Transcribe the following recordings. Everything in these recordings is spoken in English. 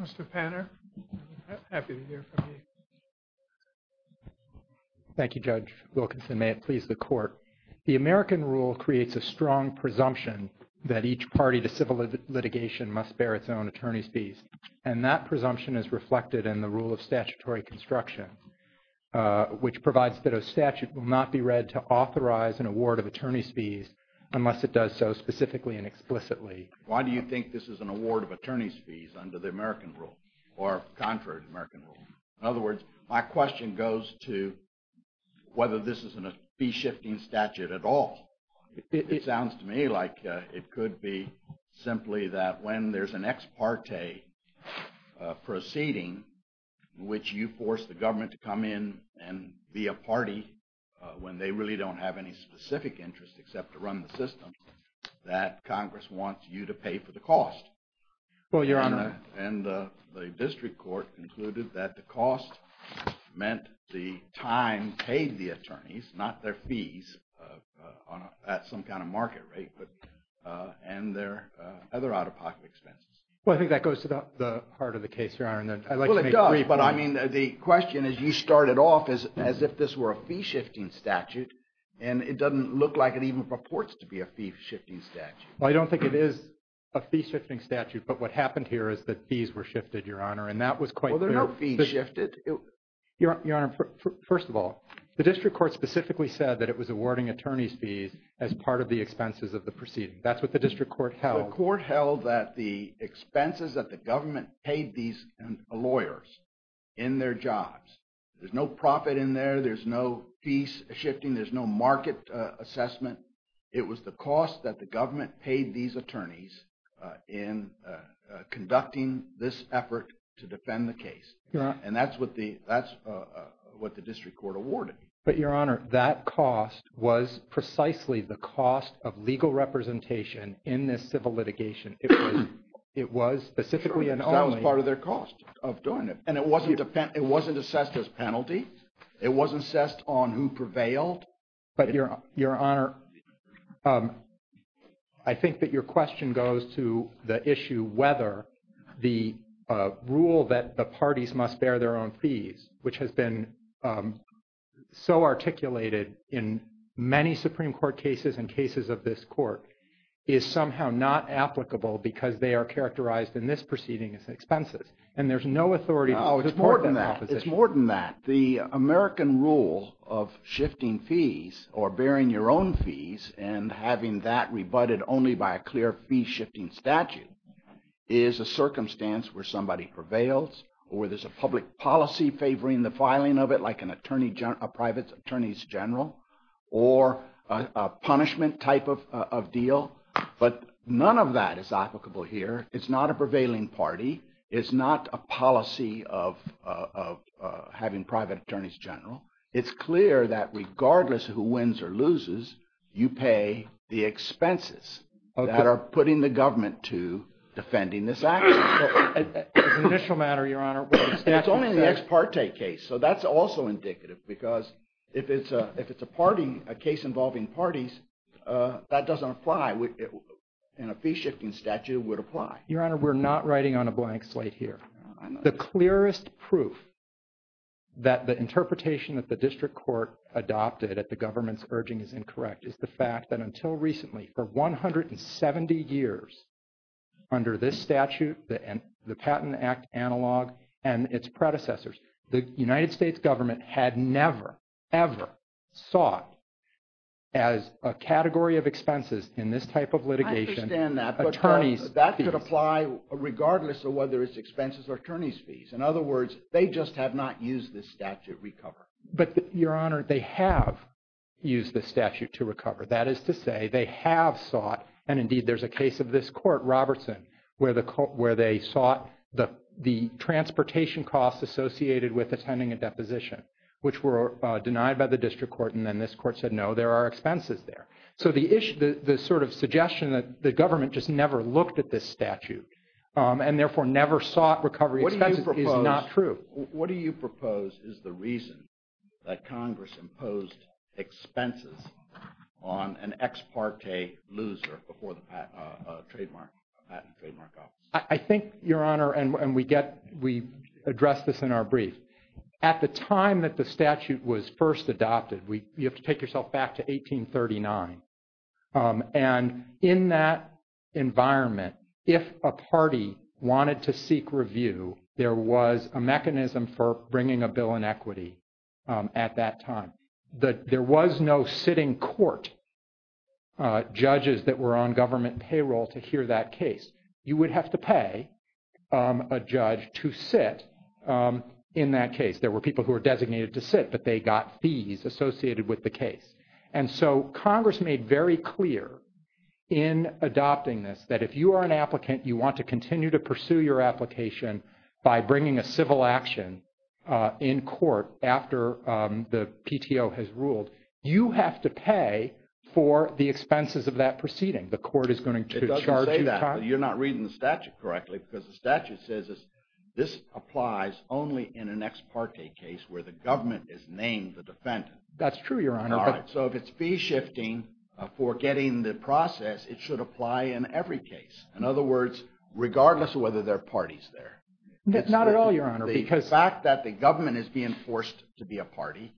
Mr. Panner, happy to hear from you. Thank you, Judge Wilkinson. May it please the Court. The American rule creates a strong presumption that each party to civil litigation must bear its own attorney's fees, and that presumption is reflected in the rule of statutory construction, which provides that a statute will not be read to authorize an award of attorney's fees unless it does so specifically and explicitly. Why do you think this is an award of attorney's fees under the American rule or contrary to the American rule? In other words, my question goes to whether this is a fee-shifting statute at all. It sounds to me like it could be simply that when there's an ex parte proceeding in which you force the government to come in and be a party when they really don't have any specific interest except to run the system, that Congress wants you to pay for the cost, and the district court concluded that the cost meant the time paid the attorneys, not their fees at some kind of market rate, and their other out-of-pocket expenses. Well, I think that goes to the heart of the case, Your Honor, and I'd like to make a point. Well, it does, but I mean, the question is you started off as if this were a fee-shifting statute, and it doesn't look like it even purports to be a fee-shifting statute. Well, I don't think it is a fee-shifting statute, but what happened here is that fees were shifted, Your Honor, and that was quite clear. Well, they're not fee-shifted. Your Honor, first of all, the district court specifically said that it was awarding attorney's fees as part of the expenses of the proceeding. That's what the district court held. The court held that the expenses that the government paid these lawyers in their jobs, there's no profit in there, there's no fees shifting, there's no market assessment. It was the cost that the government paid these attorneys in conducting this effort to defend the case, and that's what the district court awarded. But, Your Honor, that cost was precisely the cost of legal representation in this civil It was specifically and only- Sure, because that was part of their cost of doing it. And it wasn't assessed as penalty. It wasn't assessed on who prevailed. But Your Honor, I think that your question goes to the issue whether the rule that the parties must bear their own fees, which has been so articulated in many Supreme Court cases and cases of this court, is somehow not applicable because they are characterized in this proceeding as expenses. And there's no authority to support their opposition. No, it's more than that. It's more than that. The American rule of shifting fees or bearing your own fees and having that rebutted only by a clear fee-shifting statute is a circumstance where somebody prevails or there's a public policy favoring the filing of it, like a private attorney's general or a punishment type of deal. But none of that is applicable here. It's not a prevailing party. It's not a policy of having private attorneys general. It's clear that regardless of who wins or loses, you pay the expenses that are putting the government to defending this action. As an initial matter, Your Honor, what the statute says- It's only in the ex parte case. So that's also indicative because if it's a case involving parties, that doesn't apply. In a fee-shifting statute, it would apply. Your Honor, we're not writing on a blank slate here. The clearest proof that the interpretation that the district court adopted at the government's urging is incorrect is the fact that until recently, for 170 years, under this statute, the Patent Act analog, and its predecessors, the United States government had never, ever sought as a category of expenses in this type of litigation- I understand that. But that could apply regardless of whether it's expenses or attorney's fees. In other words, they just have not used this statute to recover. But Your Honor, they have used the statute to recover. That is to say, they have sought, and indeed there's a case of this court, Robertson, where they sought the transportation costs associated with attending a deposition, which were denied by the district court. And then this court said, no, there are expenses there. So the sort of suggestion that the government just never looked at this statute, and therefore never sought recovery expenses is not true. What do you propose is the reason that Congress imposed expenses on an ex parte loser before the Patent Trademark Office? I think, Your Honor, and we address this in our brief, at the time that the statute was passed, 1839, and in that environment, if a party wanted to seek review, there was a mechanism for bringing a bill in equity at that time. There was no sitting court judges that were on government payroll to hear that case. You would have to pay a judge to sit in that case. There were people who were designated to sit, but they got fees associated with the case. And so Congress made very clear in adopting this, that if you are an applicant, you want to continue to pursue your application by bringing a civil action in court after the PTO has ruled, you have to pay for the expenses of that proceeding. The court is going to charge you. It doesn't say that. But you're not reading the statute correctly, because the statute says this applies only in an ex parte case where the government is named the defendant. That's true, Your Honor. All right. So if it's fee shifting for getting the process, it should apply in every case. In other words, regardless of whether there are parties there. Not at all, Your Honor. The fact that the government is being forced to be a party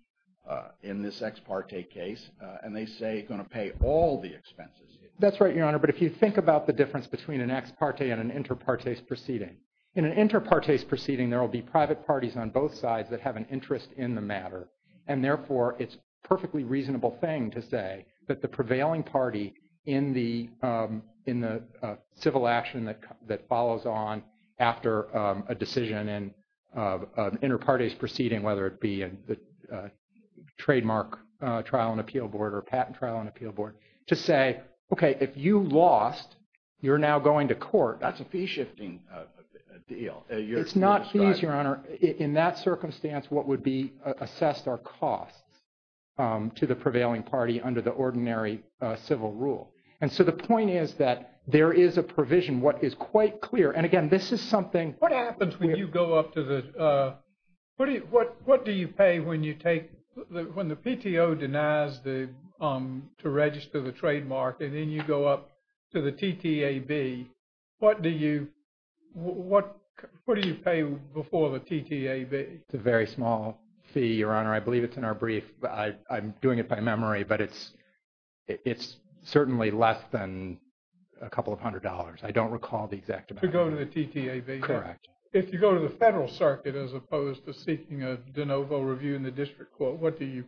in this ex parte case, and they say it's going to pay all the expenses. That's right, Your Honor. But if you think about the difference between an ex parte and an inter partes proceeding. In an inter partes proceeding, there will be private parties on both sides that have an interest in the matter. And therefore, it's a perfectly reasonable thing to say that the prevailing party in the civil action that follows on after a decision in an inter partes proceeding, whether it be a trademark trial and appeal board or a patent trial and appeal board, to say, OK, if you lost, you're now going to court. That's a fee shifting deal. It's not fees, Your Honor. In that circumstance, what would be assessed are costs to the prevailing party under the ordinary civil rule. And so the point is that there is a provision. What is quite clear, and again, this is something. What happens when you go up to the, what do you pay when you take, when the PTO denies to register the trademark, and then you go up to the TTAB, what do you pay before the TTAB? It's a very small fee, Your Honor. I believe it's in our brief. I'm doing it by memory, but it's certainly less than a couple of hundred dollars. I don't recall the exact amount. To go to the TTAB? Correct. If you go to the federal circuit as opposed to seeking a de novo review in the district court, what do you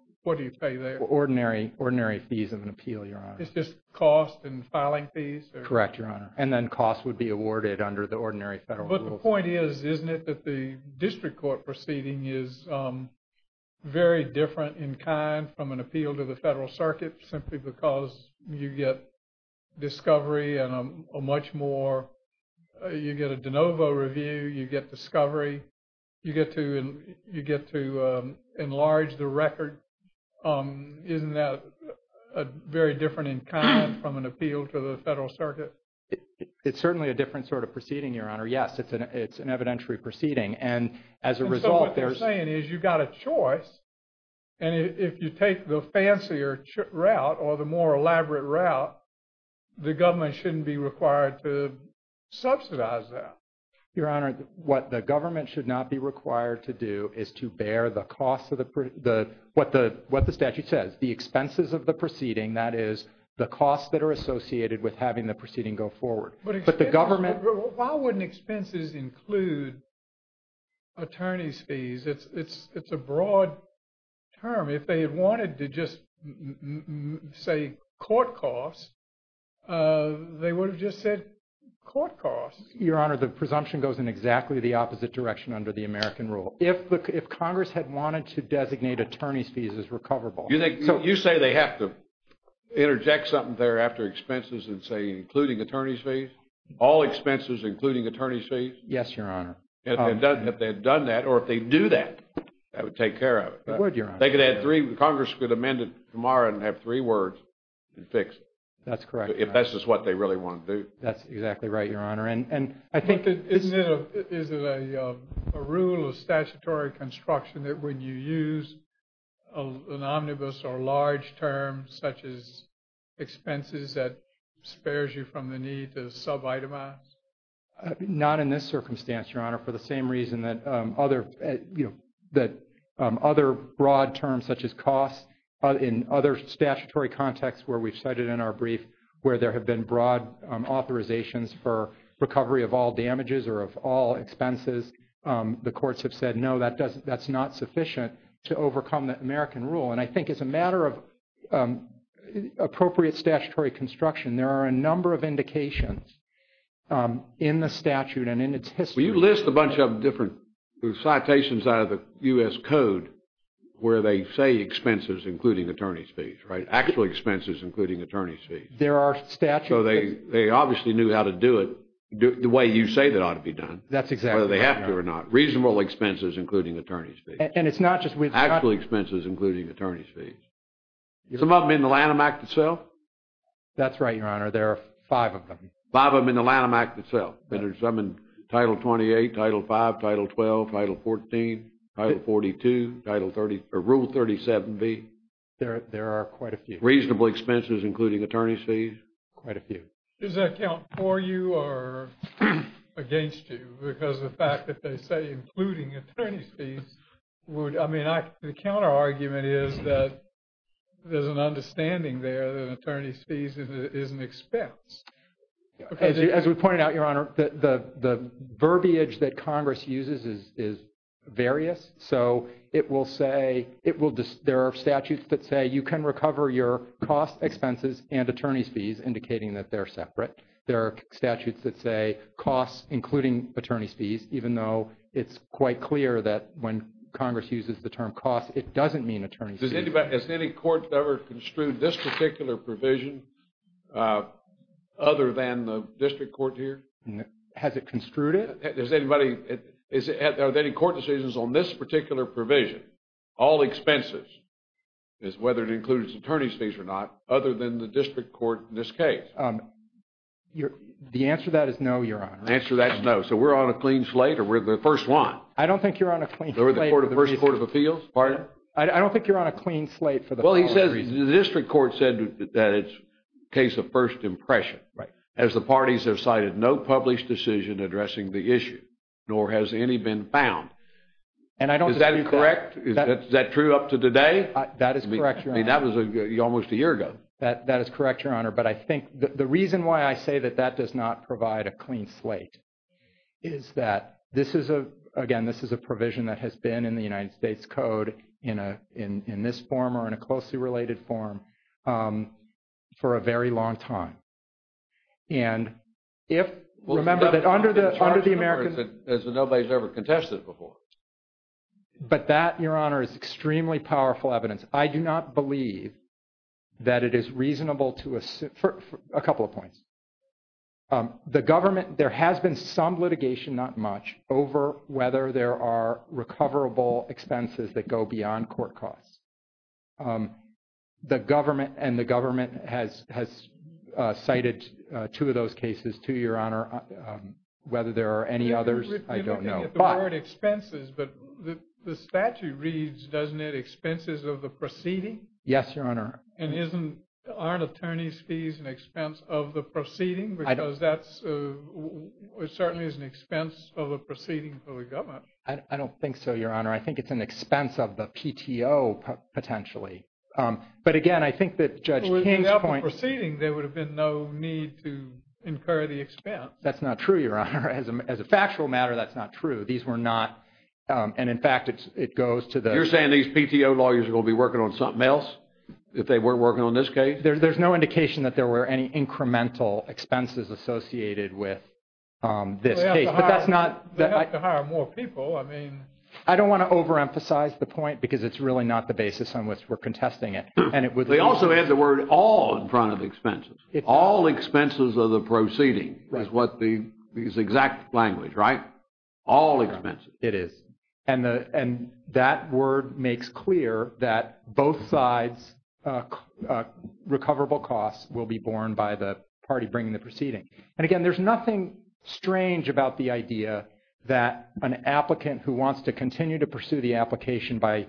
pay there? Ordinary fees of an appeal, Your Honor. It's just cost and filing fees? Correct, Your Honor. And then cost would be awarded under the ordinary federal rule. But the point is, isn't it that the district court proceeding is very different in kind from an appeal to the federal circuit simply because you get discovery and a much more, you get a de novo review, you get discovery, you get to enlarge the record. Isn't that very different in kind from an appeal to the federal circuit? It's certainly a different sort of proceeding, Your Honor. Yes. It's an evidentiary proceeding. And as a result, there's- And so what you're saying is you've got a choice, and if you take the fancier route or the more elaborate route, the government shouldn't be required to subsidize that. Your Honor, what the government should not be required to do is to bear the cost of what the statute says. The expenses of the proceeding, that is the costs that are associated with having the proceeding go forward. But the government- But why wouldn't expenses include attorney's fees? It's a broad term. If they had wanted to just say court costs, they would have just said court costs. Your Honor, the presumption goes in exactly the opposite direction under the American rule. If Congress had wanted to designate attorney's fees as recoverable- You think, you say they have to interject something there after expenses and say including attorney's fees? All expenses including attorney's fees? Yes, Your Honor. If they had done that or if they do that, that would take care of it. It would, Your Honor. They could add three. Congress could amend it tomorrow and have three words and fix it. That's correct, Your Honor. If that's just what they really want to do. That's exactly right, Your Honor. And I think- Isn't it a rule of statutory construction that when you use an omnibus or large term such as expenses that spares you from the need to subitemize? Not in this circumstance, Your Honor, for the same reason that other broad terms such as costs in other statutory contexts where we've cited in our brief where there have been broad authorizations for recovery of all damages or of all expenses, the courts have said, no, that's not sufficient to overcome the American rule. And I think it's a matter of appropriate statutory construction. There are a number of indications in the statute and in its history- Will you list a bunch of different citations out of the U.S. Code where they say expenses including attorney's fees, right? Actual expenses including attorney's fees. There are statute- So they obviously knew how to do it the way you say that ought to be done. That's exactly right, Your Honor. Whether they have to or not. Reasonable expenses including attorney's fees. And it's not just with- Actual expenses including attorney's fees. Some of them in the Lanham Act itself? That's right, Your Honor. There are five of them. Five of them in the Lanham Act itself. And there's some in Title 28, Title 5, Title 12, Title 14, Title 42, Rule 37B. There are quite a few. Reasonable expenses including attorney's fees? Quite a few. Does that count for you or against you because of the fact that they say including attorney's The counterargument is that there's an understanding there that attorney's fees is an expense. As we pointed out, Your Honor, the verbiage that Congress uses is various. So it will say- there are statutes that say you can recover your cost expenses and attorney's fees indicating that they're separate. There are statutes that say costs including attorney's fees even though it's quite clear that when Congress uses the term cost, it doesn't mean attorney's fees. Has any court ever construed this particular provision other than the district court here? Has it construed it? Has anybody- are there any court decisions on this particular provision? All expenses is whether it includes attorney's fees or not other than the district court in this case. The answer to that is no, Your Honor. The answer to that is no. So we're on a clean slate or we're the first one? I don't think you're on a clean slate. We're the first court of appeals? Pardon? I don't think you're on a clean slate for the- Well, he says the district court said that it's a case of first impression as the parties have cited no published decision addressing the issue nor has any been found. And I don't- Is that correct? Is that true up to today? That is correct, Your Honor. I mean, that was almost a year ago. That is correct, Your Honor. But I think the reason why I say that that does not provide a clean slate is that this is a, again, this is a provision that has been in the United States Code in this form or in a closely related form for a very long time. And if- Remember that under the American- There's been no place ever contested before. But that, Your Honor, is extremely powerful evidence. I do not believe that it is reasonable to- for a couple of points. The government, there has been some litigation, not much, over whether there are recoverable expenses that go beyond court costs. The government and the government has cited two of those cases, two, Your Honor. Whether there are any others, I don't know. But- You don't think of the word expenses, but the statute reads, doesn't it, expenses of the proceeding? Yes, Your Honor. And isn't- aren't attorney's fees an expense of the proceeding? Because that's- it certainly is an expense of a proceeding for the government. I don't think so, Your Honor. I think it's an expense of the PTO, potentially. But again, I think that Judge King's point- Well, if it was up to the proceeding, there would have been no need to incur the expense. That's not true, Your Honor. As a factual matter, that's not true. These were not- and in fact, it goes to the- If they weren't working on this case? There's no indication that there were any incremental expenses associated with this case. But that's not- They have to hire more people. I mean- I don't want to overemphasize the point because it's really not the basis on which we're contesting it. And it would- They also had the word all in front of expenses. All expenses of the proceeding is what the- is exact language, right? All expenses. It is. And that word makes clear that both sides' recoverable costs will be borne by the party bringing the proceeding. And again, there's nothing strange about the idea that an applicant who wants to continue to pursue the application by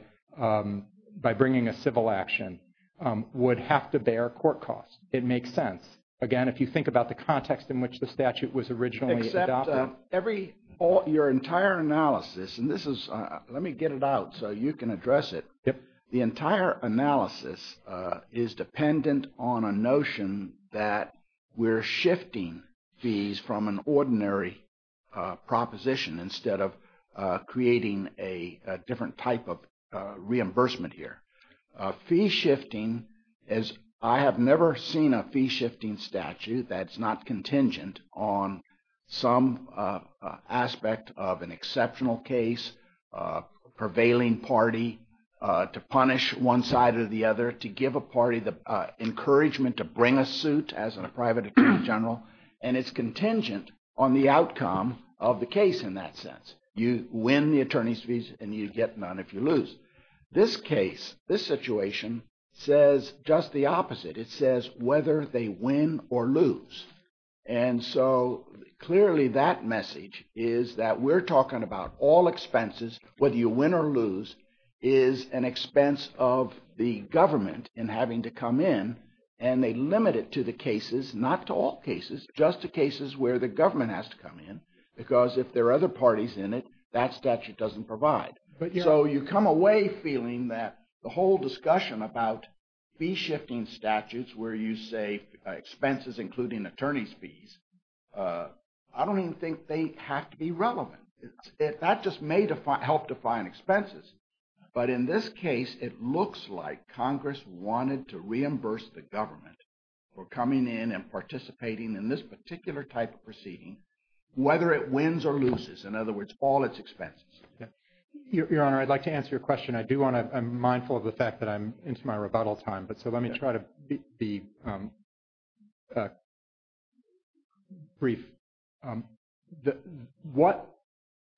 bringing a civil action would have to bear court costs. It makes sense. Again, if you think about the context in which the statute was originally adopted- And this is- Let me get it out so you can address it. The entire analysis is dependent on a notion that we're shifting fees from an ordinary proposition instead of creating a different type of reimbursement here. Fee shifting is- I have never seen a fee shifting statute that's not contingent on some aspect of an exceptional case, prevailing party, to punish one side or the other, to give a party the encouragement to bring a suit as a private attorney general. And it's contingent on the outcome of the case in that sense. You win the attorney's fees and you get none if you lose. This case, this situation says just the opposite. It says whether they win or lose. And so clearly that message is that we're talking about all expenses, whether you win or lose, is an expense of the government in having to come in and they limit it to the cases, not to all cases, just the cases where the government has to come in because if there are other parties in it, that statute doesn't provide. So you come away feeling that the whole discussion about fee shifting statutes where you say expenses including attorney's fees, I don't even think they have to be relevant. That just may help define expenses. But in this case, it looks like Congress wanted to reimburse the government for coming in and participating in this particular type of proceeding, whether it wins or loses. In other words, all its expenses. Your Honor, I'd like to answer your question. I do want to- I'm mindful of the fact that I'm into my rebuttal time. So let me try to be brief. What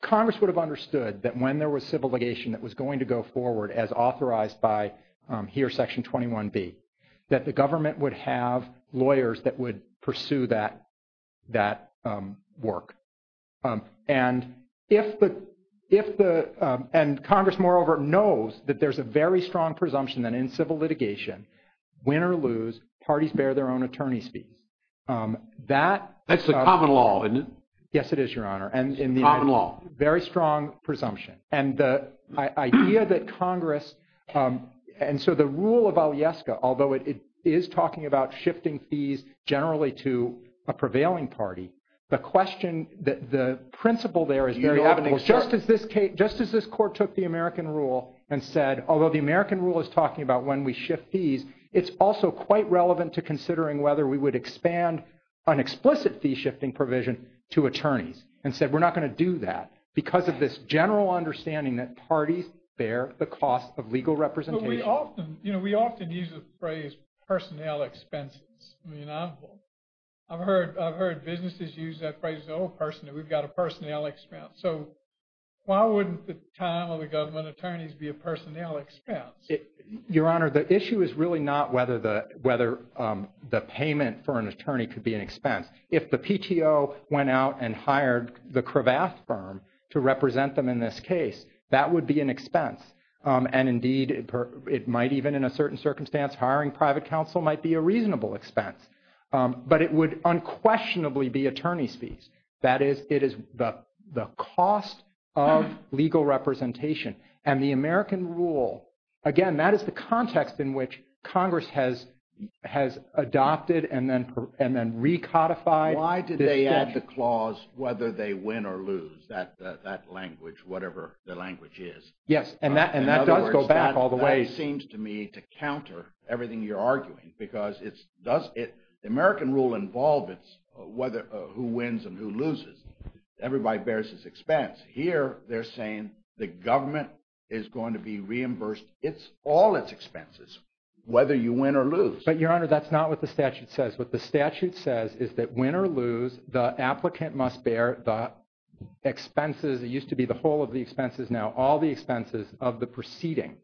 Congress would have understood that when there was civil litigation that was going to go forward as authorized by here, Section 21B, that the government would have lawyers that would pursue that work. And if the- and Congress moreover knows that there's a very strong presumption that in civil litigation, win or lose, parties bear their own attorney's fees. That- That's the common law, isn't it? Yes, it is, Your Honor. And in the- Common law. Very strong presumption. And the idea that Congress- and so the rule of Alyeska, although it is talking about shifting fees generally to a prevailing party, the question- the principle there is very evident. Just as this court took the American rule and said, although the American rule is talking about when we shift fees, it's also quite relevant to considering whether we would expand an explicit fee shifting provision to attorneys and said, we're not going to do that because of this general understanding that parties bear the cost of legal representation. But we often- you know, we often use the phrase personnel expenses. I mean, I've heard businesses use that phrase, oh, personnel, we've got a personnel expense. So why wouldn't the time of the government attorneys be a personnel expense? Your Honor, the issue is really not whether the- whether the payment for an attorney could be an expense. If the PTO went out and hired the Cravath firm to represent them in this case, that would be an expense. And indeed, it might even, in a certain circumstance, hiring private counsel might be a reasonable expense. But it would unquestionably be attorney's fees. That is, it is the cost of legal representation. And the American rule, again, that is the context in which Congress has adopted and then recodified. Why did they add the clause, whether they win or lose that language, whatever the language is? Yes. And that does go back all the way. That seems to me to counter everything you're arguing because it's- does it- the American rule involve it's whether- who wins and who loses. Everybody bears his expense. Here, they're saying the government is going to be reimbursed its- all its expenses, whether you win or lose. But, Your Honor, that's not what the statute says. What the statute says is that win or lose, the applicant must bear the expenses- it used to be the whole of the expenses. Now, all the expenses of the proceeding.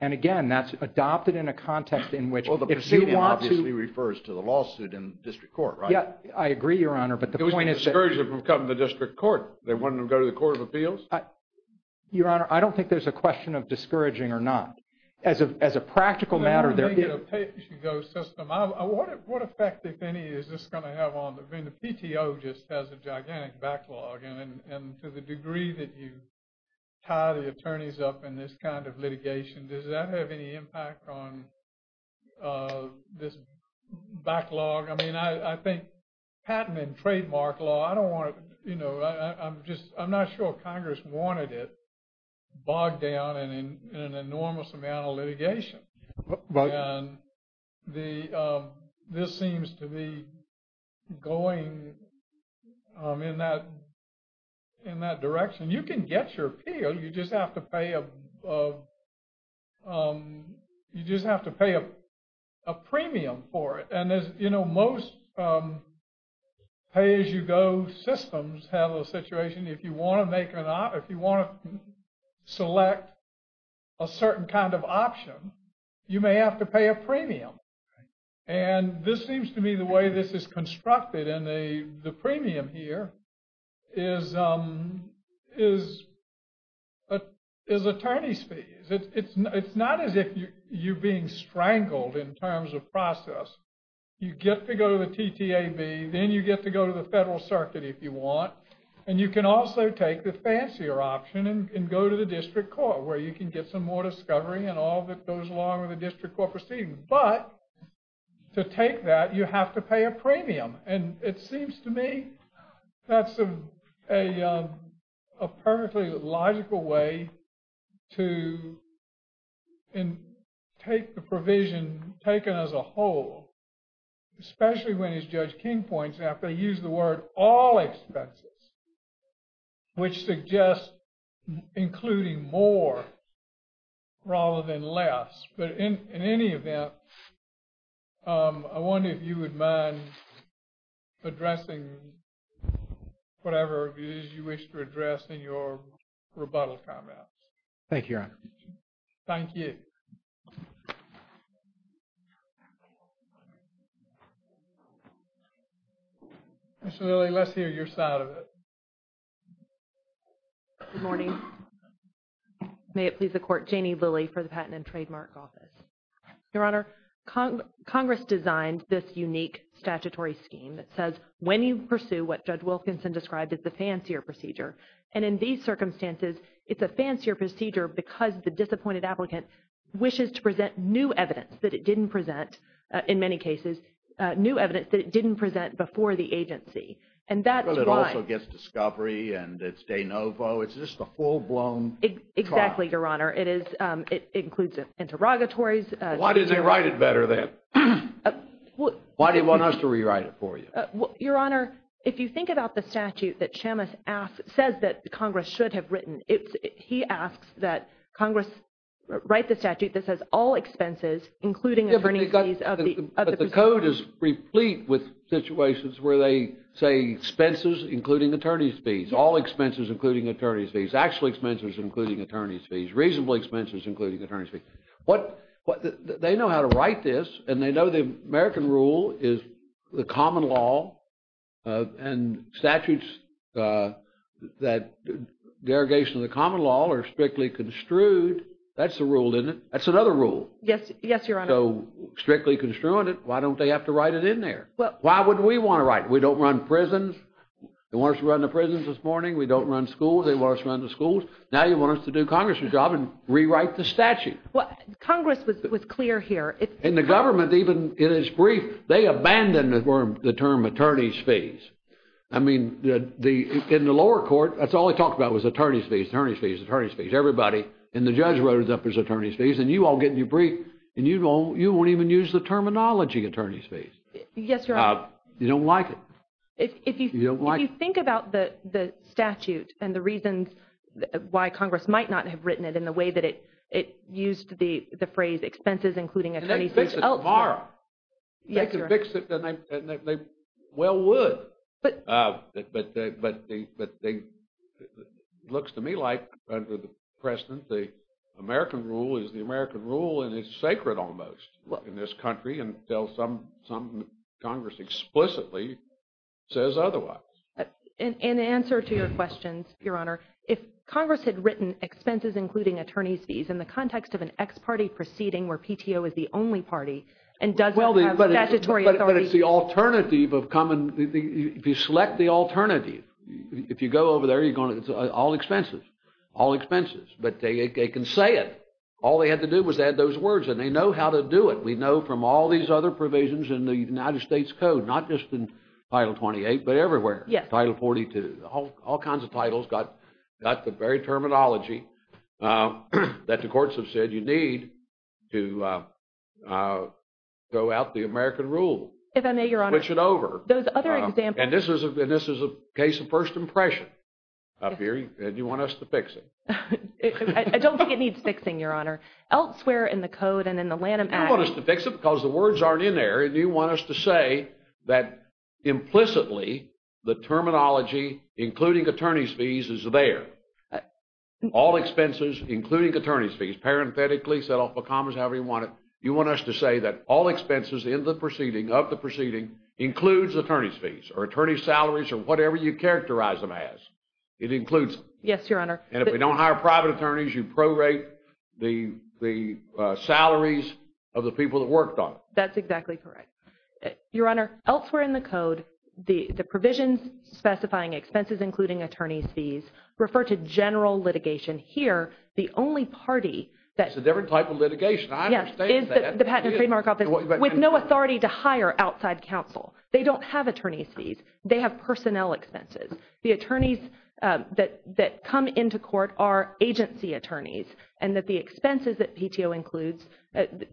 And again, that's adopted in a context in which- They want to- Obviously refers to the lawsuit in district court, right? I agree, Your Honor. But the point is that- It was a discouragement from coming to the district court. They wanted them to go to the Court of Appeals? Your Honor, I don't think there's a question of discouraging or not. As a practical matter, there is- You know, I don't think it's a pay-as-you-go system. What effect, if any, is this going to have on- I mean, the PTO just has a gigantic backlog. And to the degree that you tie the attorneys up in this kind of litigation, does that have any impact on this backlog? I mean, I think patent and trademark law, I don't want to- I'm just- I'm not sure Congress wanted it bogged down in an enormous amount of litigation. And this seems to be going in that direction. You can get your appeal. You just have to pay a premium for it. And as you know, most pay-as-you-go systems have a situation, if you want to make an op- if you want to select a certain kind of option, you may have to pay a premium. And this seems to me the way this is constructed, and the premium here is attorney's fees. It's not as if you're being strangled in terms of process. You get to go to the TTAB, then you get to go to the federal circuit, if you want. And you can also take the fancier option and go to the district court, where you can get some more discovery and all that goes along with the district court proceeding. But to take that, you have to pay a premium. And it seems to me that's a perfectly logical way to take the provision taken as a whole, especially when as Judge King points out, they use the word all expenses, which suggests including more rather than less. But in any event, I wonder if you would mind addressing whatever it is you wish to address in your rebuttal comments. Thank you, Your Honor. Thank you. Ms. Lilly, let's hear your side of it. Good morning. May it please the Court, Janie Lilly for the Patent and Trademark Office. Your Honor, Congress designed this unique statutory scheme that says when you pursue what Judge Wilkinson described as the fancier procedure, and in these circumstances, it's a fancier procedure because the disappointed applicant wishes to present new evidence that it didn't present, in many cases, new evidence that it didn't present before the agency. And that's why- But it also gets discovery, and it's de novo. It's just a full-blown trial. Exactly, Your Honor. It includes interrogatories. Why didn't they write it better then? Why do you want us to rewrite it for you? Your Honor, if you think about the statute that Chamath says that Congress should have written, he asks that Congress write the statute that says all expenses, including attorney's fees- All expenses, including attorney's fees. Actual expenses, including attorney's fees. Reasonable expenses, including attorney's fees. They know how to write this, and they know the American rule is the common law, and statutes that derogation of the common law are strictly construed. That's the rule, isn't it? That's another rule. Yes, Your Honor. So, strictly construing it, why don't they have to write it in there? Why would we want to write it? We don't run prisons. They want us to run the prisons this morning. We don't run schools. They want us to run the schools. Now, you want us to do Congress' job and rewrite the statute. Congress was clear here. And the government, even in its brief, they abandoned the term attorney's fees. I mean, in the lower court, that's all they talked about was attorney's fees, attorney's fees, attorney's fees. Everybody, and the judge wrote it up as attorney's fees, and you all get in your brief, and you won't even use the terminology attorney's fees. Yes, Your Honor. You don't like it. You don't like it. If you think about the statute and the reasons why Congress might not have written it in the way that it used the phrase expenses, including attorney's fees elsewhere. And they can fix it tomorrow. Yes, Your Honor. They can fix it, and they well would, but it looks to me like, under the precedent, the American rule is the American rule, and it's sacred, almost, in this country, until some Congress explicitly says otherwise. In answer to your questions, Your Honor, if Congress had written expenses including attorney's fees in the context of an ex-party proceeding where PTO is the only party and doesn't have statutory authority. But it's the alternative of common, if you select the alternative, if you go over there, you're going, it's all expenses, all expenses, but they can say it. All they had to do was add those words, and they know how to do it. We know from all these other provisions in the United States Code, not just in Title 28, but everywhere. Yes. Title 42. All kinds of titles got the very terminology that the courts have said you need to go out the American rule. If I may, Your Honor. Switch it over. Those other examples. And this is a case of first impression up here, and you want us to fix it. I don't think it needs fixing, Your Honor. Elsewhere in the Code and in the Lanham Act. You want us to fix it because the words aren't in there, and you want us to say that implicitly the terminology including attorney's fees is there. All expenses including attorney's fees, parenthetically, set off with commas, however you want it. You want us to say that all expenses in the proceeding, of the proceeding, includes attorney's fees, or attorney's salaries, or whatever you characterize them as. It includes them. Yes, Your Honor. And if we don't hire private attorneys, you prorate the salaries of the people that worked on it. That's exactly correct. Your Honor, elsewhere in the Code, the provisions specifying expenses including attorney's fees refer to general litigation. Here, the only party that – It's a different type of litigation. I understand that. Yes. The Patent and Trademark Office, with no authority to hire outside counsel. They don't have attorney's fees. They have personnel expenses. The attorneys that come into court are agency attorneys. And that the expenses that PTO includes,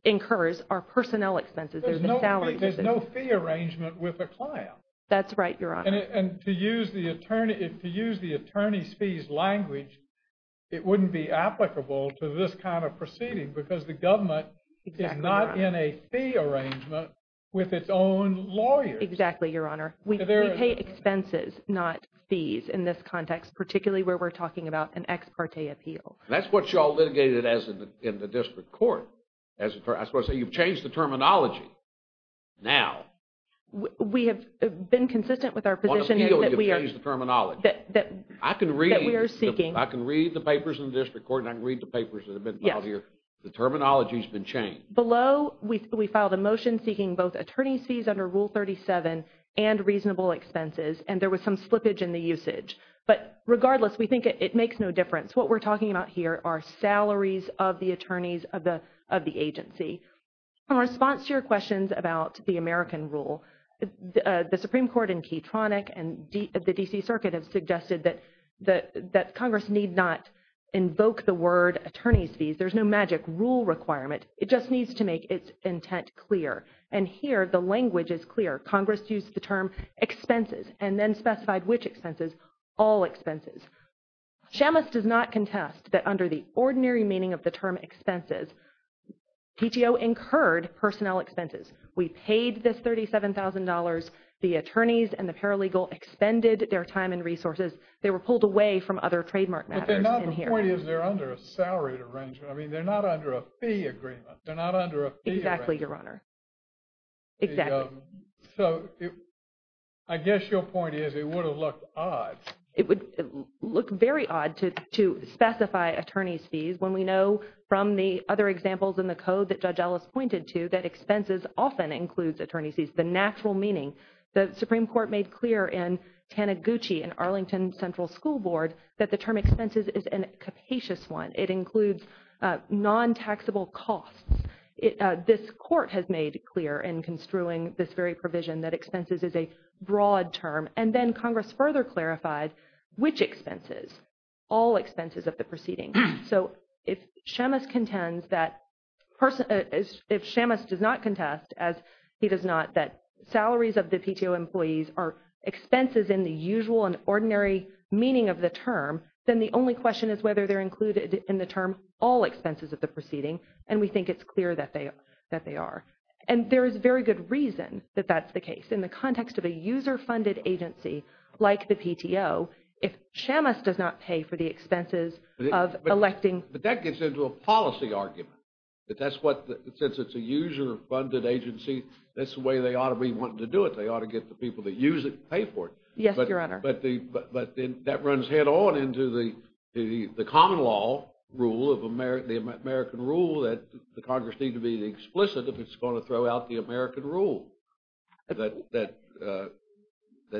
incurs, are personnel expenses. There's no salary. There's no fee arrangement with the client. That's right, Your Honor. And to use the attorney's fees language, it wouldn't be applicable to this kind of proceeding because the government is not in a fee arrangement with its own lawyers. Exactly, Your Honor. We pay expenses, not fees, in this context, particularly where we're talking about an ex parte appeal. And that's what you all litigated as in the district court. I was going to say, you've changed the terminology now. We have been consistent with our position that we are – On appeal, you've changed the terminology. I can read – That we are seeking. I can read the papers in the district court and I can read the papers that have been filed here. The terminology has been changed. Below, we filed a motion seeking both attorney's fees under Rule 37 and reasonable expenses. And there was some slippage in the usage. But regardless, we think it makes no difference. What we're talking about here are salaries of the attorneys of the agency. In response to your questions about the American rule, the Supreme Court in Keytronic and the D.C. Circuit have suggested that Congress need not invoke the word attorney's fees. There's no magic rule requirement. It just needs to make its intent clear. And here, the language is clear. Congress used the term expenses and then specified which expenses, all expenses. Shamus does not contest that under the ordinary meaning of the term expenses, PTO incurred personnel expenses. We paid this $37,000. The attorneys and the paralegal expended their time and resources. They were pulled away from other trademark matters in here. But they're not. The point is they're under a salary arrangement. I mean, they're not under a fee agreement. They're not under a fee arrangement. Exactly, Your Honor. Exactly. So, I guess your point is it would have looked odd. It would look very odd to specify attorney's fees when we know from the other examples in the code that Judge Ellis pointed to that expenses often includes attorney's fees. The natural meaning, the Supreme Court made clear in Taniguchi and Arlington Central School Board that the term expenses is a capacious one. It includes non-taxable costs. This court has made clear in construing this very provision that expenses is a broad term. And then Congress further clarified which expenses, all expenses of the proceeding. So if Shamus contends that, if Shamus does not contest as he does not that salaries of the PTO employees are expenses in the usual and ordinary meaning of the term, then the only question is whether they're included in the term all expenses of the proceeding. And we think it's clear that they are. And there is very good reason that that's the case. In the context of a user-funded agency like the PTO, if Shamus does not pay for the expenses of electing. But that gets into a policy argument that that's what, since it's a user-funded agency, that's the way they ought to be wanting to do it. They ought to get the people that use it to pay for it. Yes, Your Honor. But that runs head on into the common law rule of the American rule that the Congress need to be explicit if it's going to throw out the American rule that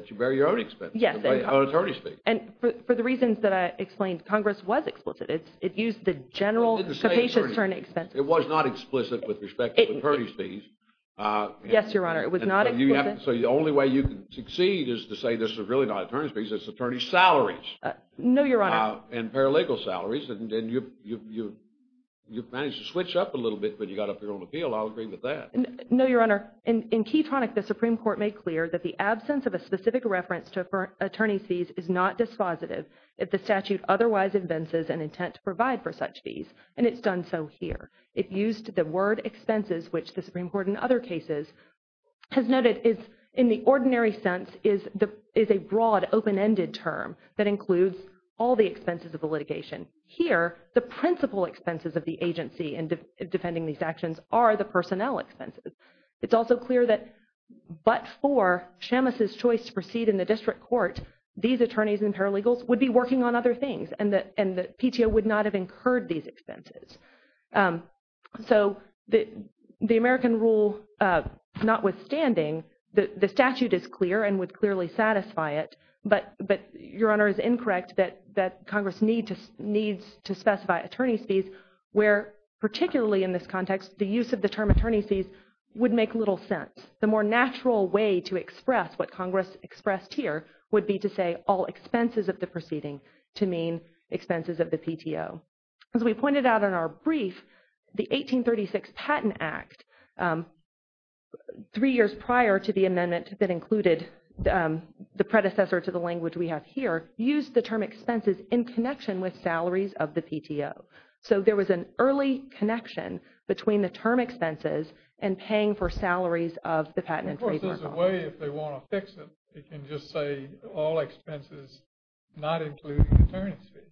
you bear your own expenses. Yes. On attorney's fees. And for the reasons that I explained, Congress was explicit. It used the general capacious attorney expenses. It was not explicit with respect to attorney's fees. Yes, Your Honor. It was not explicit. So the only way you can succeed is to say this is really not attorney's fees, it's attorney's salaries. No, Your Honor. And paralegal salaries. And you've managed to switch up a little bit when you got up here on appeal. I'll agree with that. No, Your Honor. In Keytronic, the Supreme Court made clear that the absence of a specific reference to attorney's fees is not dispositive if the statute otherwise evinces an intent to provide for such fees. And it's done so here. It used the word expenses, which the Supreme Court in other cases has noted is, in the ordinary sense, is a broad, open-ended term that includes all the expenses of the litigation. Here, the principal expenses of the agency in defending these actions are the personnel expenses. It's also clear that but for Shamus's choice to proceed in the district court, these attorneys and paralegals would be working on other things and the PTO would not have incurred these expenses. So, the American rule notwithstanding, the statute is clear and would clearly satisfy it, but Your Honor is incorrect that Congress needs to specify attorney's fees where particularly in this context, the use of the term attorney's fees would make little sense. The more natural way to express what Congress expressed here would be to say all expenses of the proceeding to mean expenses of the PTO. As we pointed out in our brief, the 1836 Patent Act, three years prior to the amendment that included the predecessor to the language we have here, used the term expenses in connection with salaries of the PTO. So, there was an early connection between the term expenses and paying for salaries of the patent attorney. Of course, there's a way if they want to fix it. They can just say all expenses not including attorney's fees.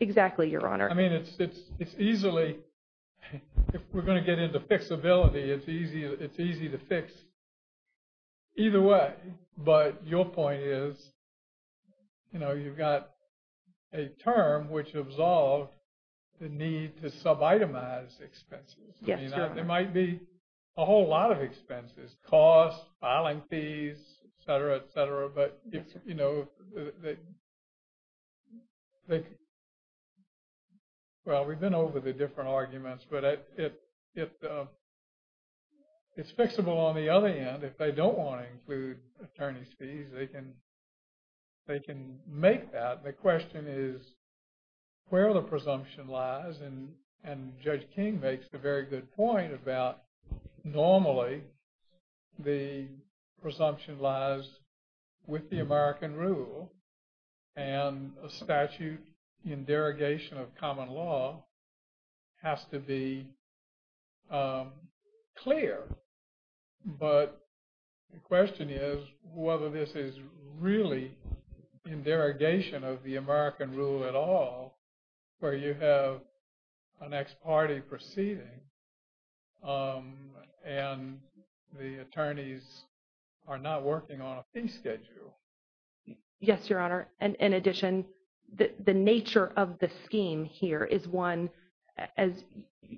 Exactly, Your Honor. I mean, it's easily, if we're going to get into fixability, it's easy to fix either way. But your point is, you know, you've got a term which absolved the need to sub-itemize expenses. There might be a whole lot of expenses, costs, filing fees, et cetera, et cetera. But, you know, well, we've been over the different arguments. But it's fixable on the other end. If they don't want to include attorney's fees, they can make that. The question is where the presumption lies. And Judge King makes a very good point about normally the presumption lies with the American rule and a statute in derogation of common law has to be clear. But the question is whether this is really in derogation of the American rule at all where you have an ex parte proceeding and the attorneys are not working on a fee schedule. Yes, Your Honor. In addition, the nature of the scheme here is one, as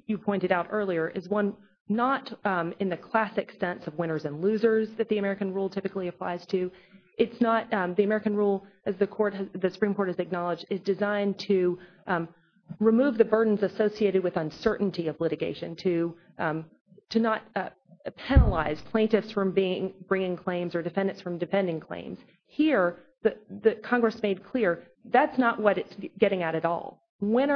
you pointed out earlier, is one not in the classic sense of winners and losers that the American rule typically applies to. It's not the American rule as the Supreme Court has acknowledged is designed to remove the burdens associated with uncertainty of litigation to not penalize plaintiffs from bringing claims or defendants from defending claims. Here, Congress made clear that's not what it's getting at at all. Win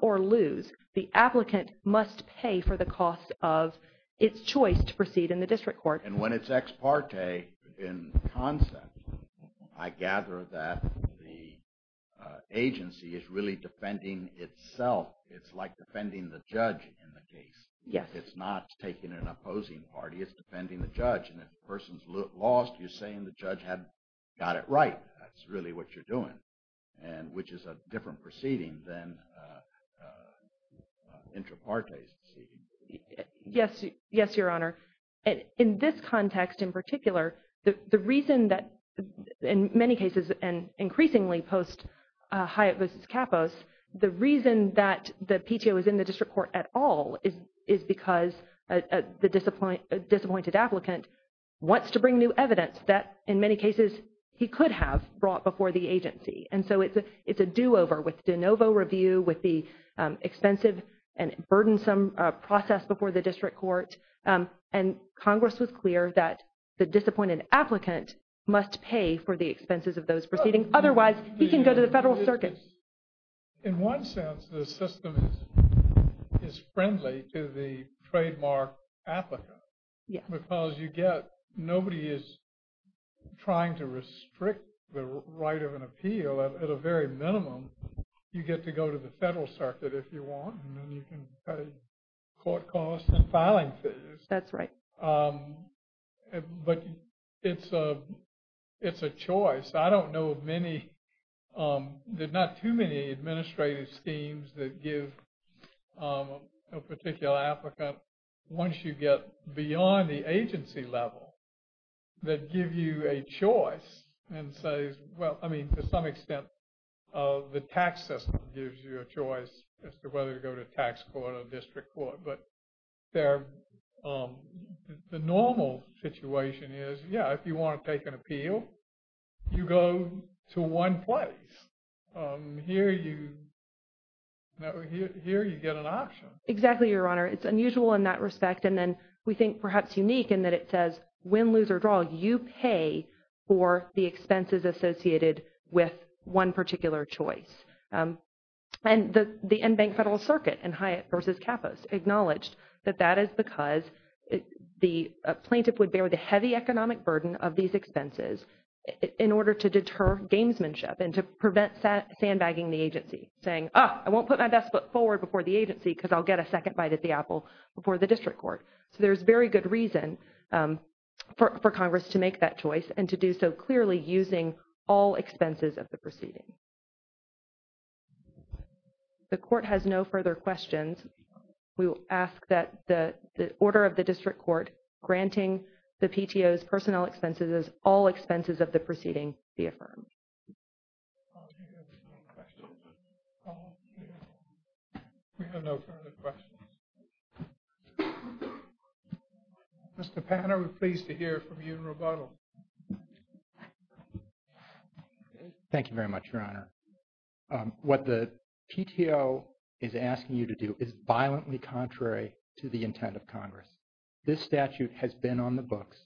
or lose, the applicant must pay for the cost of its choice to proceed in the district court. And when it's ex parte in concept, I gather that the agency is really defending itself. It's like defending the judge in the case. It's not taking an opposing party. It's defending the judge. And if a person's lost, you're saying the judge got it right. That's really what you're doing, which is a different proceeding than intra parte's proceeding. Yes, Your Honor. In this context in particular, the reason that in many cases and increasingly post Hyatt v. Capos, the reason that the PTO is in the district court at all is because the disappointed applicant wants to bring new evidence that in many cases he could have brought before the agency. And so it's a do-over with de novo review, with the expensive and burdensome process before the district court. And Congress was clear that the disappointed applicant must pay for the expenses of those proceedings. Otherwise, he can go to the federal circuit. In one sense, the system is friendly to the trademark applicant. Because nobody is trying to restrict the right of an appeal. At a very minimum, you get to go to the federal circuit if you want. And then you can pay court costs and filing fees. That's right. But it's a choice. I don't know of many. There's not too many administrative schemes that give a particular applicant, once you get beyond the agency level, that give you a choice and say, well, I mean, to some extent, the tax system gives you a choice as to whether to go to tax court or district court. But the normal situation is, yeah, if you want to take an appeal, you go to one place. Here you get an option. Exactly, Your Honor. It's unusual in that respect. And then we think perhaps unique in that it says win, lose, or draw. You pay for the expenses associated with one particular choice. And the end bank federal circuit in Hyatt v. Capos acknowledged that that is because the plaintiff would bear the heavy economic burden of these expenses in order to deter gamesmanship and to prevent sandbagging the agency. Saying, ah, I won't put my best foot forward before the agency because I'll get a second bite at the apple before the district court. So there's very good reason for Congress to make that choice and to do so clearly using all expenses of the proceeding. The court has no further questions. We will ask that the order of the district court granting the PTO's personnel expenses as all expenses of the proceeding be affirmed. We have no further questions. Mr. Panner, we're pleased to hear from you in rebuttal. Thank you very much, Your Honor. What the PTO is asking you to do is violently contrary to the intent of Congress. This statute has been on the books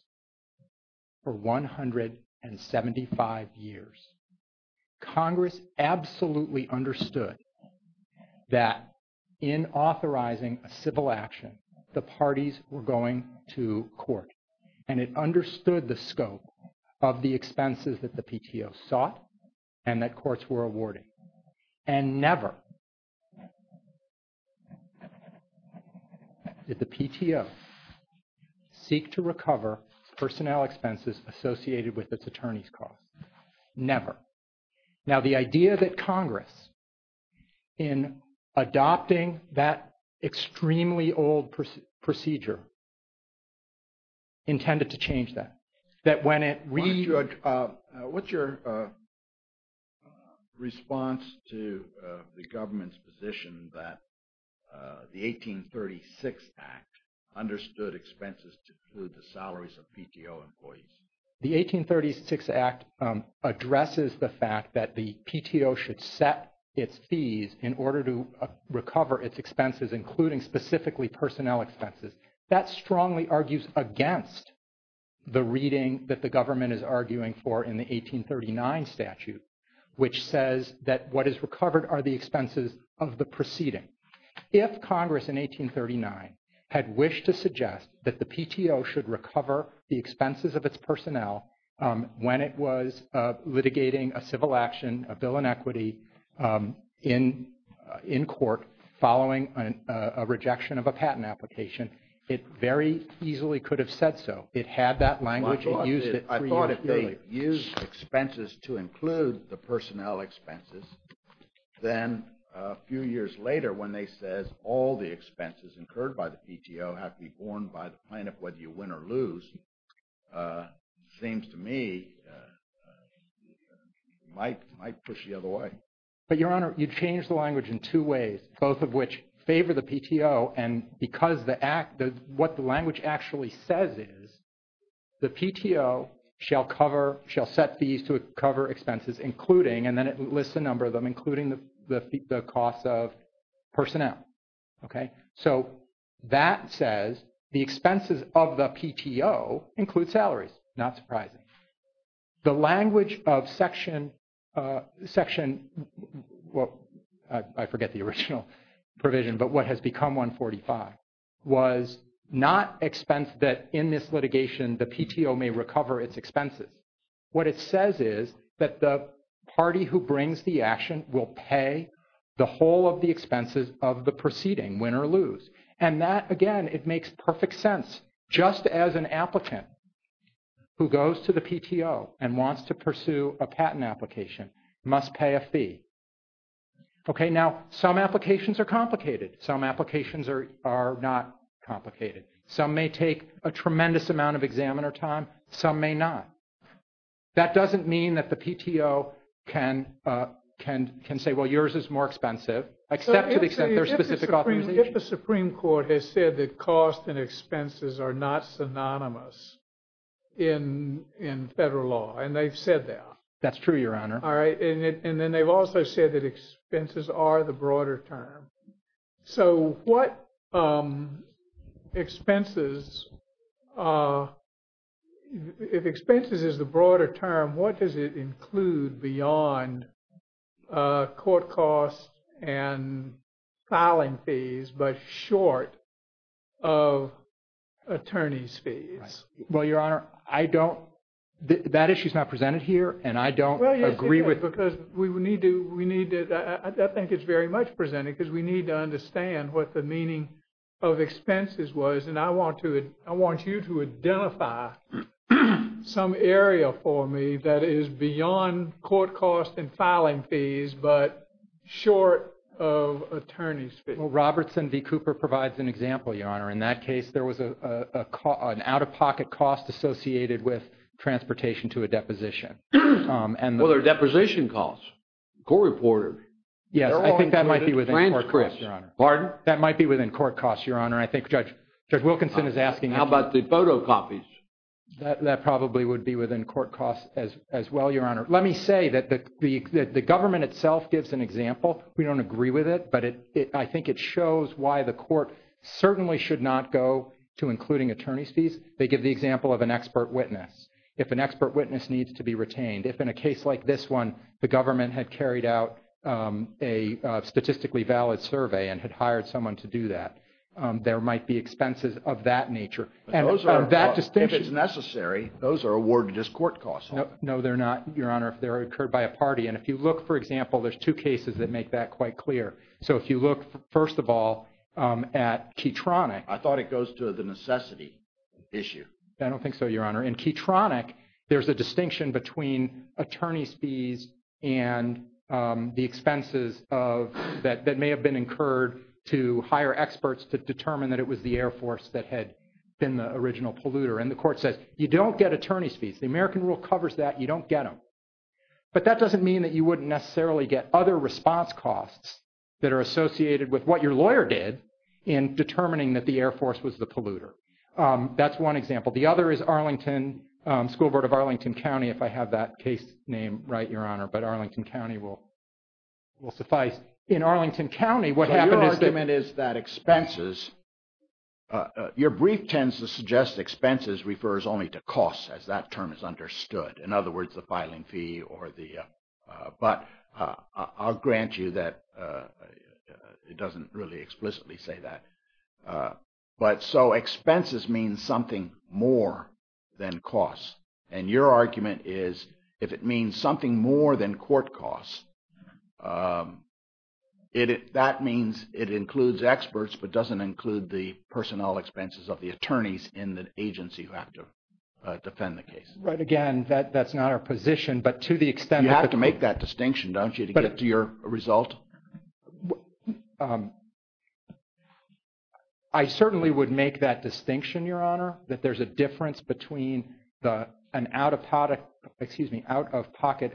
for 175 years. Congress absolutely understood that in authorizing a civil action, the parties were going to court. And it understood the scope of the expenses that the PTO sought and that courts were awarding. And never did the PTO seek to recover personnel expenses associated with its attorney's costs. Never. Now the idea that Congress in adopting that extremely old procedure intended to change that. What's your response to the government's position that the 1836 Act understood expenses to include the salaries of PTO employees? The 1836 Act addresses the fact that the PTO should set its fees in order to recover its expenses, including specifically personnel expenses. That strongly argues against the reading that the government is arguing for in the 1839 statute, which says that what is recovered are the expenses of the proceeding. If Congress in 1839 had wished to suggest that the PTO should recover the expenses of its personnel when it was litigating a civil action, a bill in equity in court following a rejection of a patent application, it very easily could have said so. It had that language and used it three years earlier. I thought if they used expenses to include the personnel expenses, then a few years later when they says all the expenses incurred by the PTO have to be borne by the plaintiff, whether you win or lose, seems to me might push the other way. But Your Honor, you changed the language in two ways, both of which favor the PTO and because what the language actually says is the PTO shall set fees to recover expenses including, and then it lists a number of them, including the costs of personnel. So that says the expenses of the PTO include salaries. Not surprising. The language of section, I forget the original provision, but what has become 145, was not expense that in this litigation, the PTO may recover its expenses. What it says is that the party who brings the action will pay the whole of the expenses of the proceeding, win or lose. And that, again, it makes perfect sense. Just as an applicant who goes to the PTO and wants to pursue a patent application must pay a fee. Okay. Now, some applications are complicated. Some applications are not complicated. Some may take a tremendous amount of examiner time. Some may not. That doesn't mean that the PTO can say, well, yours is more expensive, except to the extent there's specific authorization. If the Supreme Court has said that cost and expenses are not synonymous in federal law, and they've said that. That's true, Your Honor. All right. And then they've also said that expenses are the broader term. So what expenses, if expenses is the broader term, what does it include beyond court costs and filing fees, but short of attorney's fees? Well, Your Honor, I don't, that issue is not presented here, and I don't agree with. I don't agree because we need to, I think it's very much presented because we need to understand what the meaning of expenses was. And I want you to identify some area for me that is beyond court costs and filing fees, but short of attorney's fees. Well, Robertson v. Cooper provides an example, Your Honor. In that case, there was an out-of-pocket cost associated with transportation to a deposition. Well, there are deposition costs. Court reported. Yes, I think that might be within court costs, Your Honor. Pardon? That might be within court costs, Your Honor. I think Judge Wilkinson is asking. How about the photocopies? That probably would be within court costs as well, Your Honor. Let me say that the government itself gives an example. We don't agree with it, but I think it shows why the court certainly should not go to including attorney's fees. They give the example of an expert witness. If an expert witness needs to be retained, if in a case like this one, the government had carried out a statistically valid survey and had hired someone to do that, there might be expenses of that nature. If it's necessary, those are awarded as court costs. No, they're not, Your Honor, if they're incurred by a party. And if you look, for example, there's two cases that make that quite clear. So if you look, first of all, at Keytronic. I thought it goes to the necessity issue. I don't think so, Your Honor. In Keytronic, there's a distinction between attorney's fees and the expenses that may have been incurred to hire experts to determine that it was the Air Force that had been the original polluter. And the court says, you don't get attorney's fees. The American rule covers that. You don't get them. But that doesn't mean that you wouldn't necessarily get other response costs that are associated with what your lawyer did in determining that the Air Force was the polluter. That's one example. The other is Arlington, School Board of Arlington County, if I have that case name right, Your Honor, but Arlington County will suffice. In Arlington County, what happened is that... Your argument is that expenses... Your brief tends to suggest expenses refers only to costs as that term is understood. In other words, the filing fee or the... But I'll grant you that it doesn't really explicitly say that. But so expenses means something more than costs. And your argument is if it means something more than court costs, that means it includes experts but doesn't include the personnel expenses of the attorneys in the agency who have to defend the case. Right. Again, that's not our position. But to the extent that... You have to make that distinction, don't you, to get to your result? I certainly would make that distinction, Your Honor, that there's a difference between an out-of-pocket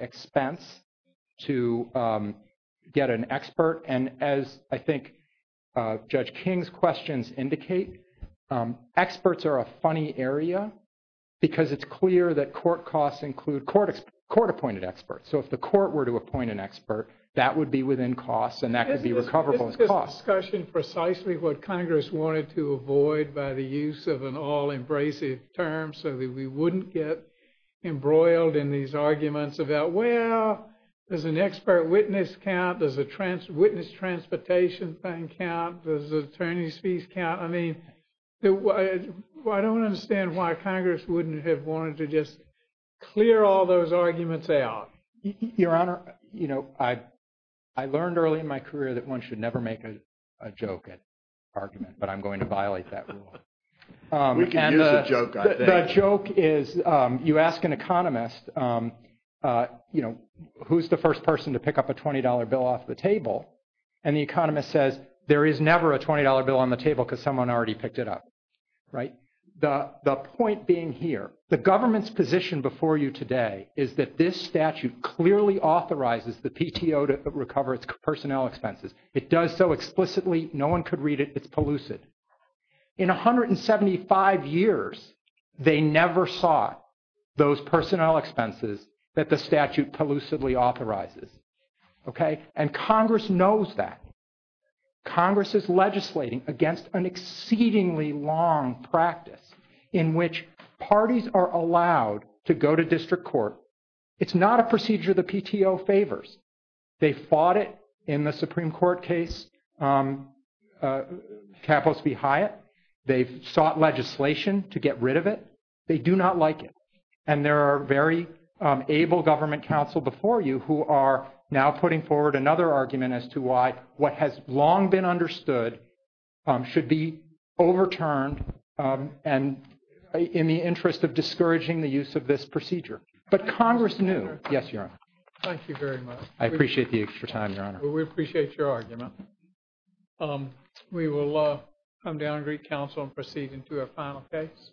expense to get an expert. And as I think Judge King's questions indicate, experts are a funny area because it's clear that court costs include court-appointed experts. So if the court were to appoint an expert, that would be within costs and that could be recoverable as costs. This is a discussion precisely what Congress wanted to avoid by the use of an all-embracive term so that we wouldn't get embroiled in these arguments about, well, does an expert witness count? Does a witness transportation count? Does attorney's fees count? I don't understand why Congress wouldn't have wanted to just clear all those arguments out. Your Honor, I learned early in my career that one should never make a joke at argument, but I'm going to violate that rule. We can use a joke, I think. The joke is you ask an economist, who's the first person to pick up a $20 bill off the table? And the economist says, there is never a $20 bill on the table because someone already picked it up. The point being here, the government's position before you today is that this statute clearly authorizes the PTO to recover its personnel expenses. It does so explicitly. No one could read it. It's pellucid. In 175 years, they never saw those personnel expenses that the statute pellucidly authorizes. Okay? And Congress knows that. Congress is legislating against an exceedingly long practice in which parties are allowed to go to district court. It's not a procedure the PTO favors. They fought it in the Supreme Court case, Campos v. Hyatt. They've sought legislation to get rid of it. They do not like it. And there are very able government counsel before you who are now putting forward another argument as to why what has long been understood should be overturned and in the interest of discouraging the use of this procedure. But Congress knew. Yes, Your Honor. Thank you very much. I appreciate the extra time, Your Honor. We appreciate your argument. We will come down and greet counsel and proceed into our final case.